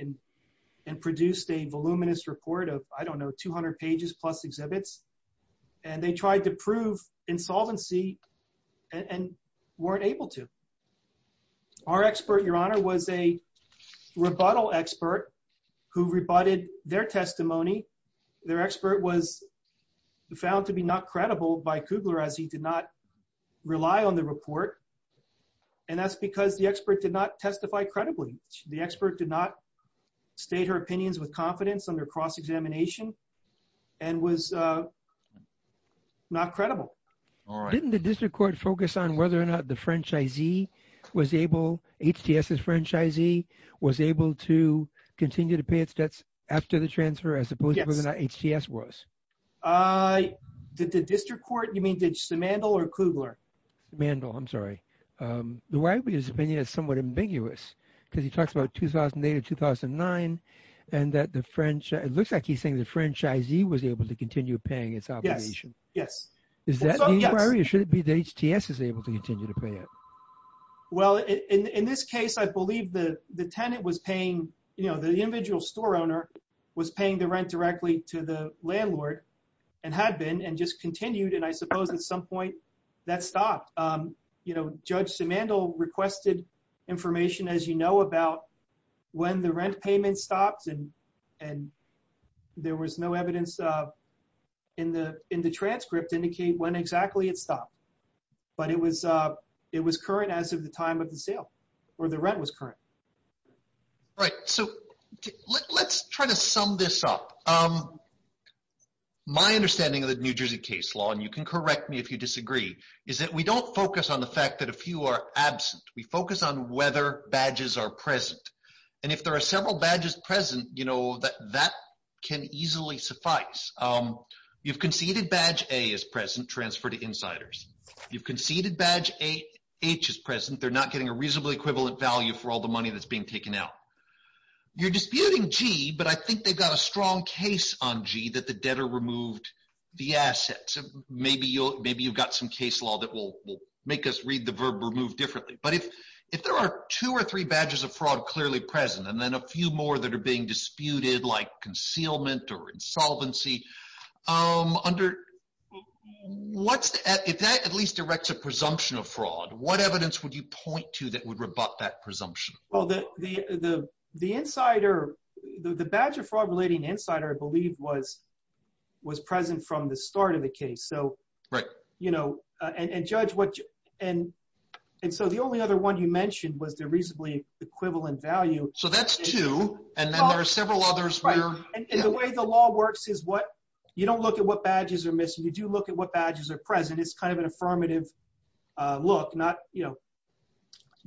produced a voluminous report of, I don't know, 200 pages plus exhibits. And they tried to prove insolvency and weren't able to. Our expert, your honor, was a rebuttal expert who rebutted their testimony. Their expert was found to be not credible by Kugler as he did not rely on the report. And that's because the expert did not testify credibly. The expert did not state her opinions with confidence under cross-examination and was not credible. All right. Didn't the district court focus on whether or not the franchisee was able, HTS's franchisee, was able to continue to pay its debts after the transfer as opposed to whether or not HTS was? Did the district court, you mean, did Simandl or Kugler? Simandl, I'm sorry. The way I read his opinion is somewhat ambiguous because he talks about 2008 or 2009 and that the franchisee, it looks like he's saying the franchisee was able to continue paying its obligation. Yes. Is that the inquiry? Or should it be that HTS is able to continue to pay it? Well, in this case, I believe the tenant was paying, you know, the individual store owner was paying the rent directly to the landlord and had been and just continued. And I suppose at some point that stopped. You know, Judge Simandl requested information, as you know, about when the rent payment stops and there was no evidence in the transcript to indicate when exactly it stopped. But it was current as of the time of the sale or the rent was current. Right. So let's try to sum this up. My understanding of the New Jersey case law, and you can correct me if you disagree, is that we don't focus on the fact that a few are absent. We focus on whether badges are present. And if there are several badges present, you know, that can easily suffice. You've conceded badge A is present, transfer to insiders. You've conceded badge H is present, they're not getting a reasonably equivalent value for all the money that's being taken out. You're disputing G, but I think they've got a strong case on G that the debtor removed the assets. Maybe you've got some case law that will make us read the verb remove differently. But if there are two or three badges of fraud clearly present, and then a few more that are being disputed like concealment or insolvency, if that at least directs a presumption of fraud, what evidence would you point to that would rebut that presumption? Well, the badge of fraud relating insider, I believe was present from the start of the case. So, you know, and judge what... And so the only other one you mentioned was the reasonably equivalent value. So that's two, and then there are several others where... And the way the law works is what, you don't look at what badges are missing. You do look at what badges are present. It's kind of an affirmative look, not, you know.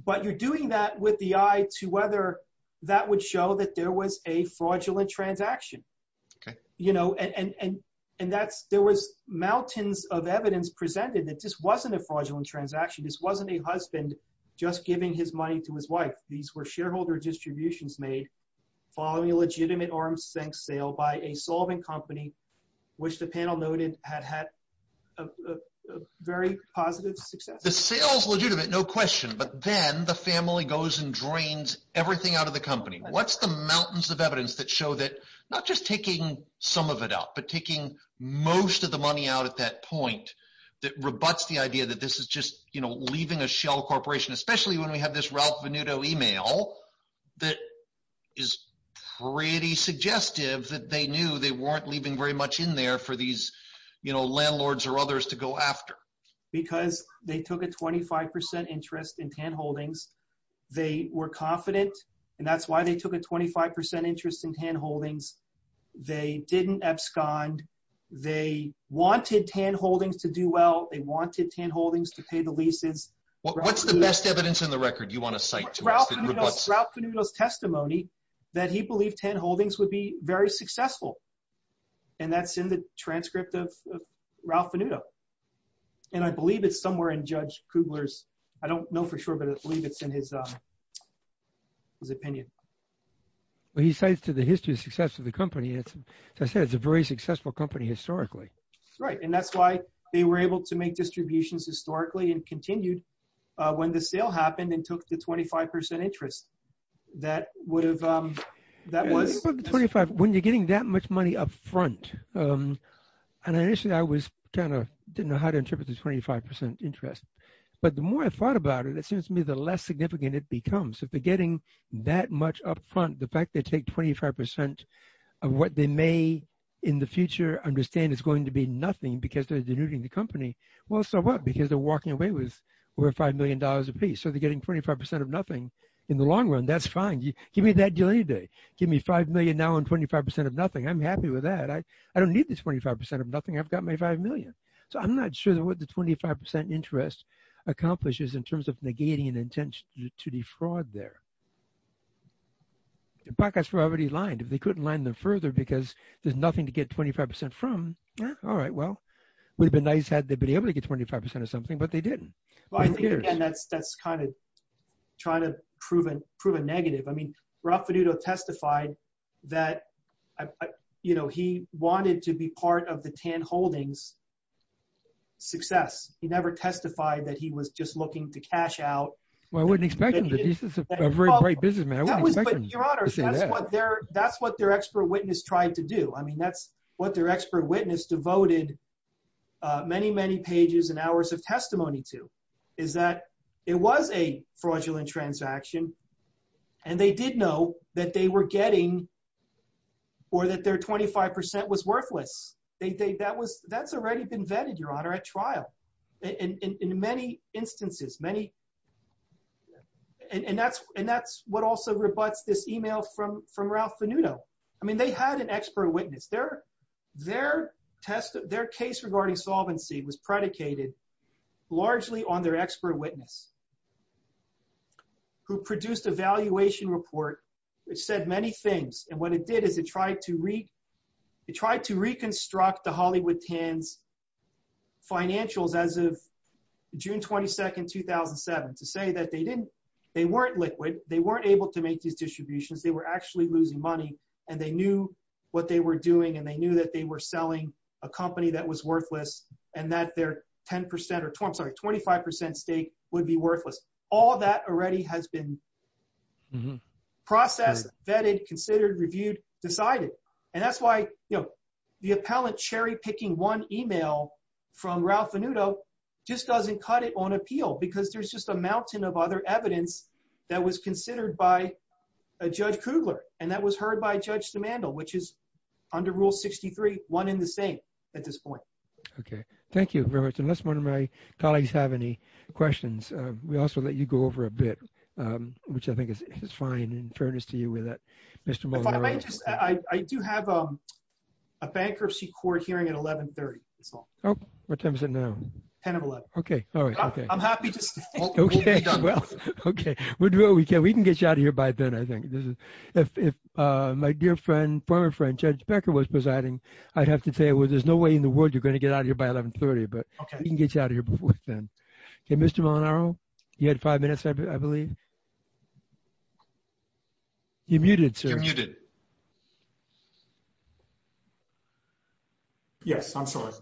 But you're doing that with the eye to whether that would show that there was a fraudulent transaction. Okay. You know, and there was mountains of evidence presented that this wasn't a fraudulent transaction. This wasn't a husband just giving his money to his wife. These were shareholder distributions made following a legitimate arm's length sale by a solving company, which the panel noted had had a very positive success. The sales legitimate, no question, but then the family goes and drains everything out of the company. What's the mountains of evidence that show that not just taking some of it out, but taking most of the money out at that point that rebutts the idea that this is just, you know, leaving a shell corporation, especially when we have this Ralph Venuto email that is pretty suggestive that they knew they weren't leaving very much in there for these, you know, landlords or others to go after. Because they took a 25% interest in Tann Holdings. They were confident, and that's why they took a 25% interest in Tann Holdings. They didn't abscond. They wanted Tann Holdings to do well. They wanted Tann Holdings to pay the leases. What's the best evidence in the record you want to cite to us? Ralph Venuto's testimony that he believed Tann Holdings would be very successful. And that's in the transcript of Ralph Venuto. And I believe it's somewhere in Judge Kugler's, I don't know for sure, but I believe it's in his opinion. Well, he cites to the history of success of the company. As I said, it's a very successful company historically. Right, and that's why they were able to make distributions historically and continued when the sale happened and took the 25% interest. That would have, that was- When you're getting that much money upfront, and initially I was kind of, didn't know how to interpret the 25% interest. But the more I thought about it, it seems to me the less significant it becomes. If they're getting that much upfront, the fact they take 25% of what they may in the future understand is going to be nothing because they're denuding the company. Well, so what? Because they're walking away with over $5 million a piece. So they're getting 25% of nothing in the long run. That's fine. Give me that deal any day. Give me 5 million now and 25% of nothing. I'm happy with that. I don't need this 25% of nothing. I've got my 5 million. So I'm not sure that what the 25% interest accomplishes in terms of negating an intention to defraud there. The pockets were already lined. If they couldn't line them further because there's nothing to get 25% from, all right, well, would have been nice had they been able to get 25% or something, but they didn't. Well, I think, again, that's kind of trying to prove a negative. I mean, Rafferuto testified that he wanted to be part of the Tann Holdings success. He never testified that he was just looking to cash out. Well, I wouldn't expect him to. This is a very bright businessman. I wouldn't expect him to say that. Your Honor, that's what their expert witness tried to do. I mean, that's what their expert witness devoted many, many pages and hours of testimony to is that it was a fraudulent transaction and they did know that they were getting or that their 25% was worthless. That's already been vetted, Your Honor, at trial in many instances, many. And that's what also rebutts this email from Ralph Fanuto. I mean, they had an expert witness. Their case regarding solvency was predicated largely on their expert witness who produced a valuation report which said many things. And what it did is it tried to reconstruct the Hollywood Tanns financials as of June 22nd, 2007. To say that they weren't liquid. They weren't able to make these distributions. They were actually losing money and they knew what they were doing and they knew that they were selling a company that was worthless and that their 10% or, I'm sorry, 25% stake would be worthless. All that already has been processed, vetted, considered, reviewed, decided. And that's why the appellant cherry picking one email from Ralph Fanuto just doesn't cut it on appeal because there's just a mountain of other evidence that was considered by Judge Kugler and that was heard by Judge Demandle, which is under Rule 63, one in the same at this point. Okay, thank you very much. Unless one of my colleagues have any questions, we also let you go over a bit, which I think is fine in fairness to you with that, Mr. Molinaro. I do have a bankruptcy court hearing at 1130, that's all. Oh, what time is it now? 10 of 11. Okay, all right, okay. I'm happy to stay. Okay, well, okay. We can get you out of here by then, I think. If my dear friend, former friend, Judge Becker was presiding, I'd have to say, well, there's no way in the world you're gonna get out of here by 1130, but we can get you out of here before then. Okay, Mr. Molinaro, you had five minutes, I believe. You're muted, sir. You're muted. Yes, I'm sorry.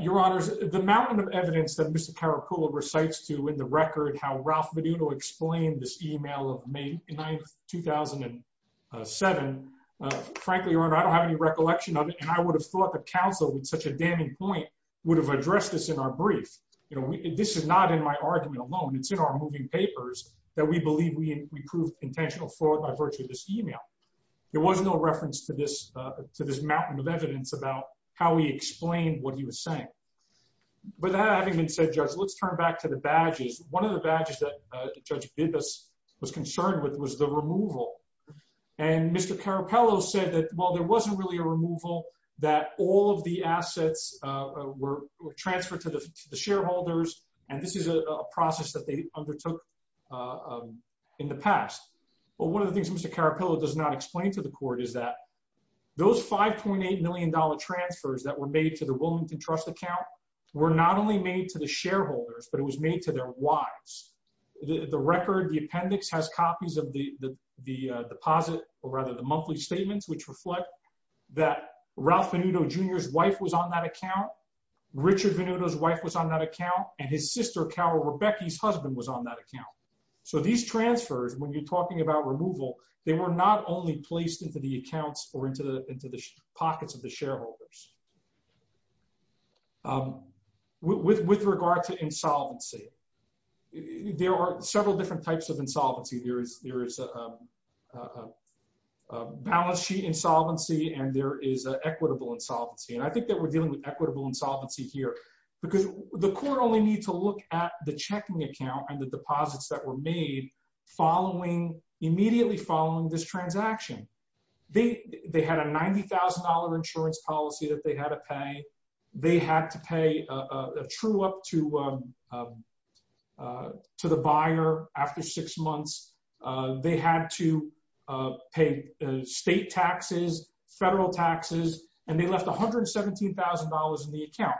Your honors, the mountain of evidence that Mr. Caracullo recites to win the record how Ralph Vaduto explained this email of May 9th, 2007, frankly, your honor, I don't have any recollection of it, and I would have thought the counsel with such a damning point would have addressed this in our brief. This is not in my argument alone. It's in our moving papers that we believe we proved intentional fraud by virtue of this email. There was no reference to this mountain of evidence about how he explained what he was saying. With that having been said, Judge, let's turn back to the badges. One of the badges that Judge Bibas was concerned with was the removal. And Mr. Caracullo said that, well, there wasn't really a removal, that all of the assets were transferred to the shareholders, and this is a process that they undertook in the past. Well, one of the things Mr. Caracullo does not explain to the court is that those $5.8 million transfers that were made to the Wilmington Trust account were not only made to the shareholders, but it was made to their wives. The record, the appendix has copies of the deposit, or rather the monthly statements, which reflect that Ralph Venuto Jr.'s wife was on that account, Richard Venuto's wife was on that account, and his sister Carol Rebecca's husband was on that account. So these transfers, when you're talking about removal, they were not only placed into the accounts or into the pockets of the shareholders. With regard to insolvency, there are several different types of insolvency. There is balance sheet insolvency, and there is equitable insolvency. And I think that we're dealing with equitable insolvency here because the court only needs to look at the checking account and the deposits that were made immediately following this transaction. They had a $90,000 insurance policy that they had to pay. They had to pay a true up to the buyer after six months. They had to pay state taxes, federal taxes, and they left $117,000 in the account.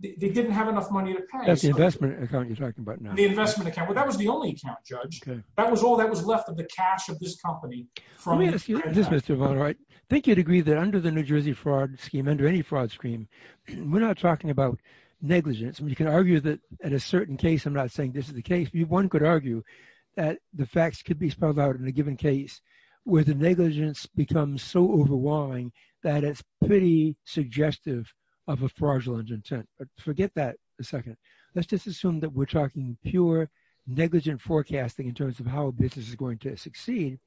They didn't have enough money to pay. That's the investment account you're talking about now. The investment account. Well, that was the only account, Judge. That was all that was left of the cash of this company. Let me ask you this, Mr. Bonner. I think you'd agree that under the New Jersey fraud scheme, under any fraud scheme, we're not talking about negligence. We can argue that at a certain case, I'm not saying this is the case. One could argue that the facts could be spelled out in a given case where the negligence becomes so overwhelming that it's pretty suggestive of a fraudulent intent. Forget that for a second. Let's just assume that we're talking pure negligent forecasting in terms of how a business is going to succeed.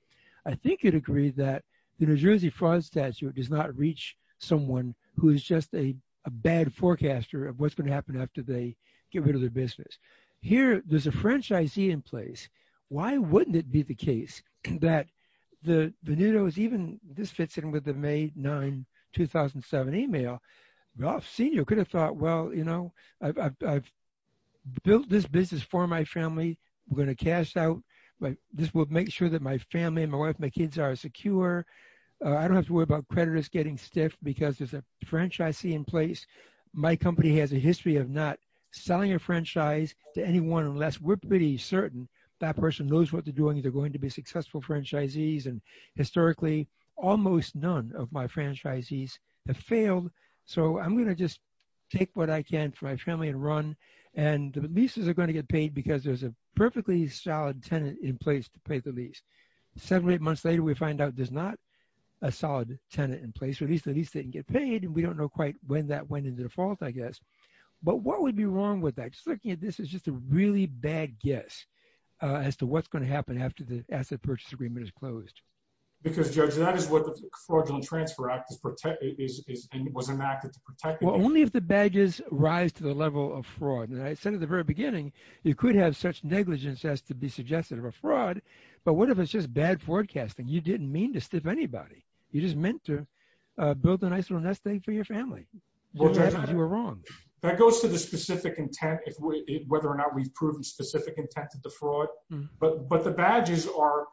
I think you'd agree that the New Jersey fraud statute does not reach someone who is just a bad forecaster of what's going to happen after they get rid of their business. Here, there's a franchisee in place. Why wouldn't it be the case that the Venuto is even, this fits in with the May 9, 2007 email. Ralph Senior could have thought, well, you know, I've built this business for my family. We're going to cash out. This will make sure that my family, my wife, my kids are secure. I don't have to worry about creditors getting stiff because there's a franchisee in place. My company has a history of not selling a franchise to anyone unless we're pretty certain that person knows what they're doing and they're going to be successful franchisees. And historically, almost none of my franchisees have failed. So I'm going to just take what I can for my family and run. And the leases are going to get paid because there's a perfectly solid tenant in place to pay the lease. Seven, eight months later, we find out there's not a solid tenant in place, or at least the lease didn't get paid. And we don't know quite when that went into default, I guess. But what would be wrong with that? Just looking at this is just a really bad guess as to what's going to happen after the asset purchase agreement is closed. Because, Judge, that is what the Fraudulent Transfer Act is protecting, and was enacted to protect. Well, only if the badges rise to the level of fraud. And I said at the very beginning, you could have such negligence as to be suggested of a fraud. But what if it's just bad forecasting? You didn't mean to stiff anybody. You just meant to build a nice little nest egg for your family. You were wrong. That goes to the specific intent, whether or not we've proven specific intent to defraud. But the badges are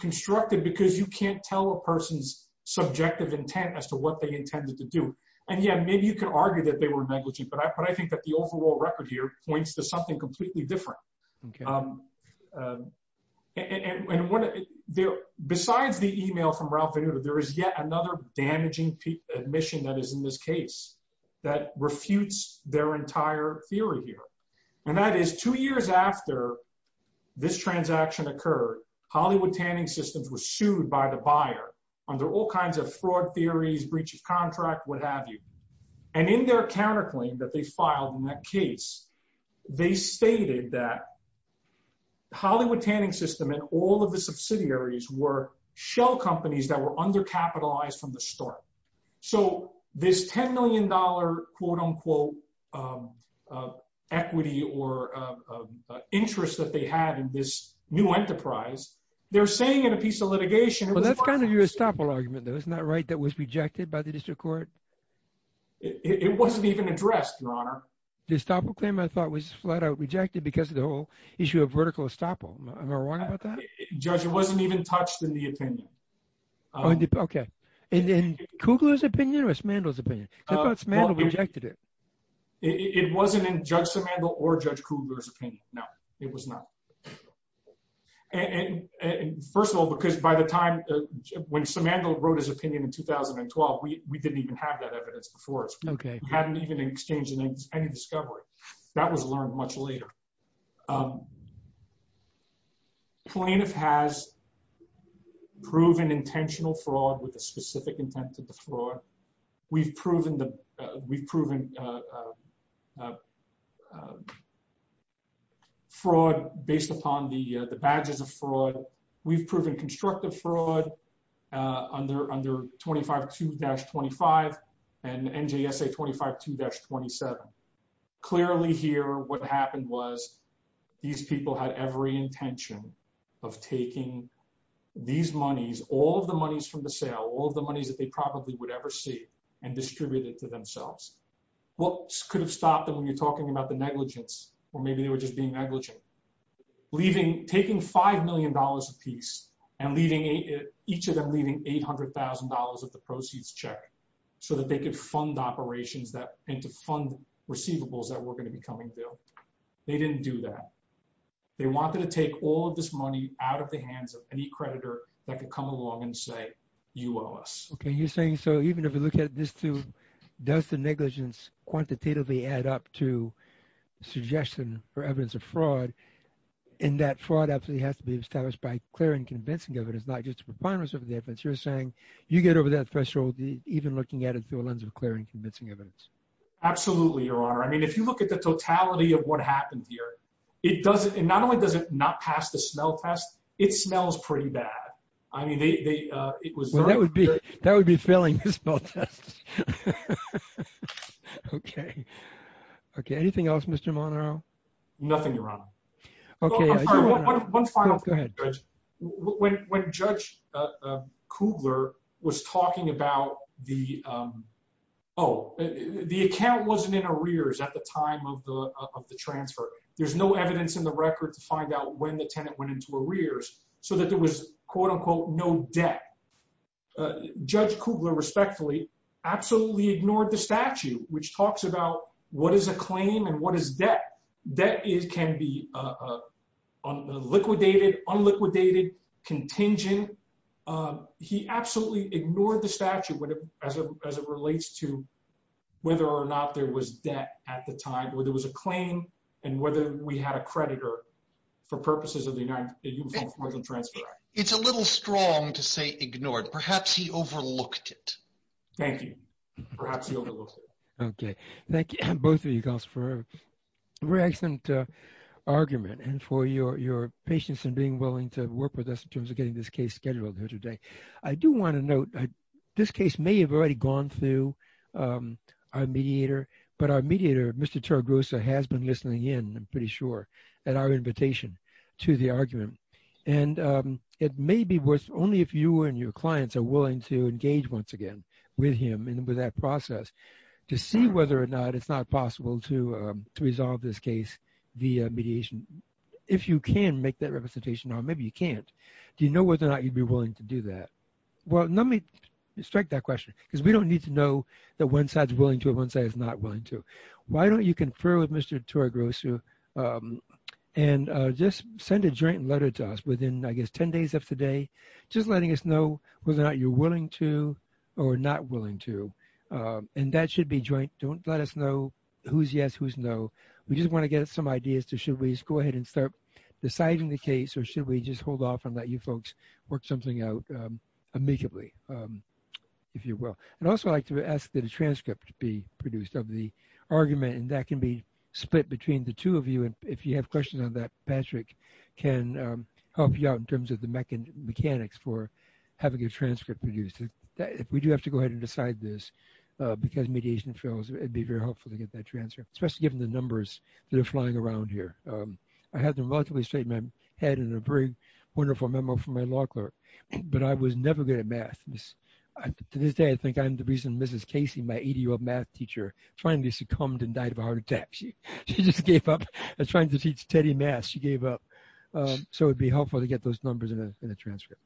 constructed because you can't tell a person's subjective intent as to what they intended to do. And, yeah, maybe you can argue that they were negligent. But I think that the overall record here points to something completely different. Okay. And besides the email from Ralph Venuto, there is yet another damaging admission that is in this case that refutes their entire theory here. And that is two years after this transaction occurred, Hollywood Tanning Systems was sued by the buyer under all kinds of fraud theories, breach of contract, what have you. And in their counterclaim that they filed in that case, they stated that Hollywood Tanning System and all of the subsidiaries were shell companies that were undercapitalized from the start. So this $10 million, quote, unquote, equity or interest that they had in this new enterprise, they're saying in a piece of litigation- Well, that's kind of your estoppel argument, though. Isn't that right? That was rejected by the district court? It wasn't even addressed, Your Honor. The estoppel claim, I thought, was flat out rejected because of the whole issue of vertical estoppel. Am I wrong about that? Judge, it wasn't even touched in the opinion. Oh, okay. In Kugler's opinion or Smandel's opinion? I thought Smandel rejected it. It wasn't in Judge Smandel or Judge Kugler's opinion, no. It was not. And first of all, because by the time, when Smandel wrote his opinion in 2012, we didn't even have that evidence before us. We hadn't even exchanged any discovery. That was learned much later. Plaintiff has proven intentional fraud with a specific intent to defraud. We've proven the, we've proven fraud based upon the badges of fraud. We've proven constructive fraud under 25-2-25 and NJSA 25-2-27. Clearly here, what happened was these people had every intention of taking these monies, all of the monies from the sale, all of the monies that they probably would ever see and distribute it to themselves. What could have stopped them when you're talking about the negligence or maybe they were just being negligent? Leaving, taking $5 million a piece and leaving each of them leaving $800,000 of the proceeds check so that they could fund operations that and to fund receivables that were gonna be coming to them. They didn't do that. They wanted to take all of this money out of the hands of any creditor that could come along and say, you owe us. Okay, you're saying, so even if we look at this too, does the negligence quantitatively add up to suggestion for evidence of fraud in that fraud absolutely has to be established by clear and convincing evidence, not just a preponderance of the evidence. You're saying you get over that threshold even looking at it through a lens of clear and convincing evidence. Absolutely, Your Honor. I mean, if you look at the totality of what happened here, it doesn't, and not only does it not pass the smell test, it smells pretty bad. I mean, it was- Well, that would be failing the smell test. Okay, okay, anything else, Mr. Monaro? Nothing, Your Honor. Okay- I'm sorry, one final- Go ahead, Judge. When Judge Kubler was talking about the, oh, the account wasn't in arrears at the time of the transfer. There's no evidence in the record to find out when the tenant went into arrears so that there was quote, unquote, no debt. Judge Kubler, respectfully, absolutely ignored the statute which talks about what is a claim and what is debt. Debt can be liquidated, unliquidated, contingent. He absolutely ignored the statute as it relates to whether or not there was debt at the time, whether it was a claim and whether we had a creditor for purposes of the Uniform Formal Transfer Act. It's a little strong to say ignored. Perhaps he overlooked it. Thank you, perhaps he overlooked it. Okay, thank you, both of you, constable, for a very excellent argument and for your patience in being willing to work with us in terms of getting this case scheduled here today. I do wanna note, this case may have already gone through our mediator, but our mediator, Mr. Taragusa, has been listening in, I'm pretty sure, at our invitation to the argument. And it may be worth, only if you and your clients are willing to engage once again with him and with that process to see whether or not it's not possible to resolve this case via mediation. If you can make that representation, or maybe you can't, do you know whether or not you'd be willing to do that? Well, let me strike that question because we don't need to know that one side's willing to and one side is not willing to. Why don't you confer with Mr. Taragusa and just send a joint letter to us within, I guess, 10 days of today, just letting us know whether or not you're willing to or not willing to. And that should be joint. Don't let us know who's yes, who's no. We just wanna get some ideas to, should we just go ahead and start deciding the case or should we just hold off and let you folks work something out amicably, if you will. And also I'd like to ask that a transcript be produced of the argument, and that can be split between the two of you. And if you have questions on that, Patrick can help you out in terms of the mechanics for having a transcript produced. If we do have to go ahead and decide this because mediation fails, it'd be very helpful to get that transcript, especially given the numbers that are flying around here. I had them relatively straight in my head and a very wonderful memo from my law clerk, but I was never good at math. To this day, I think I'm the reason Mrs. Casey, my 80-year-old math teacher, finally succumbed and died of a heart attack. She just gave up. I was trying to teach Teddy math, she gave up. So it'd be helpful to get those numbers in a transcript.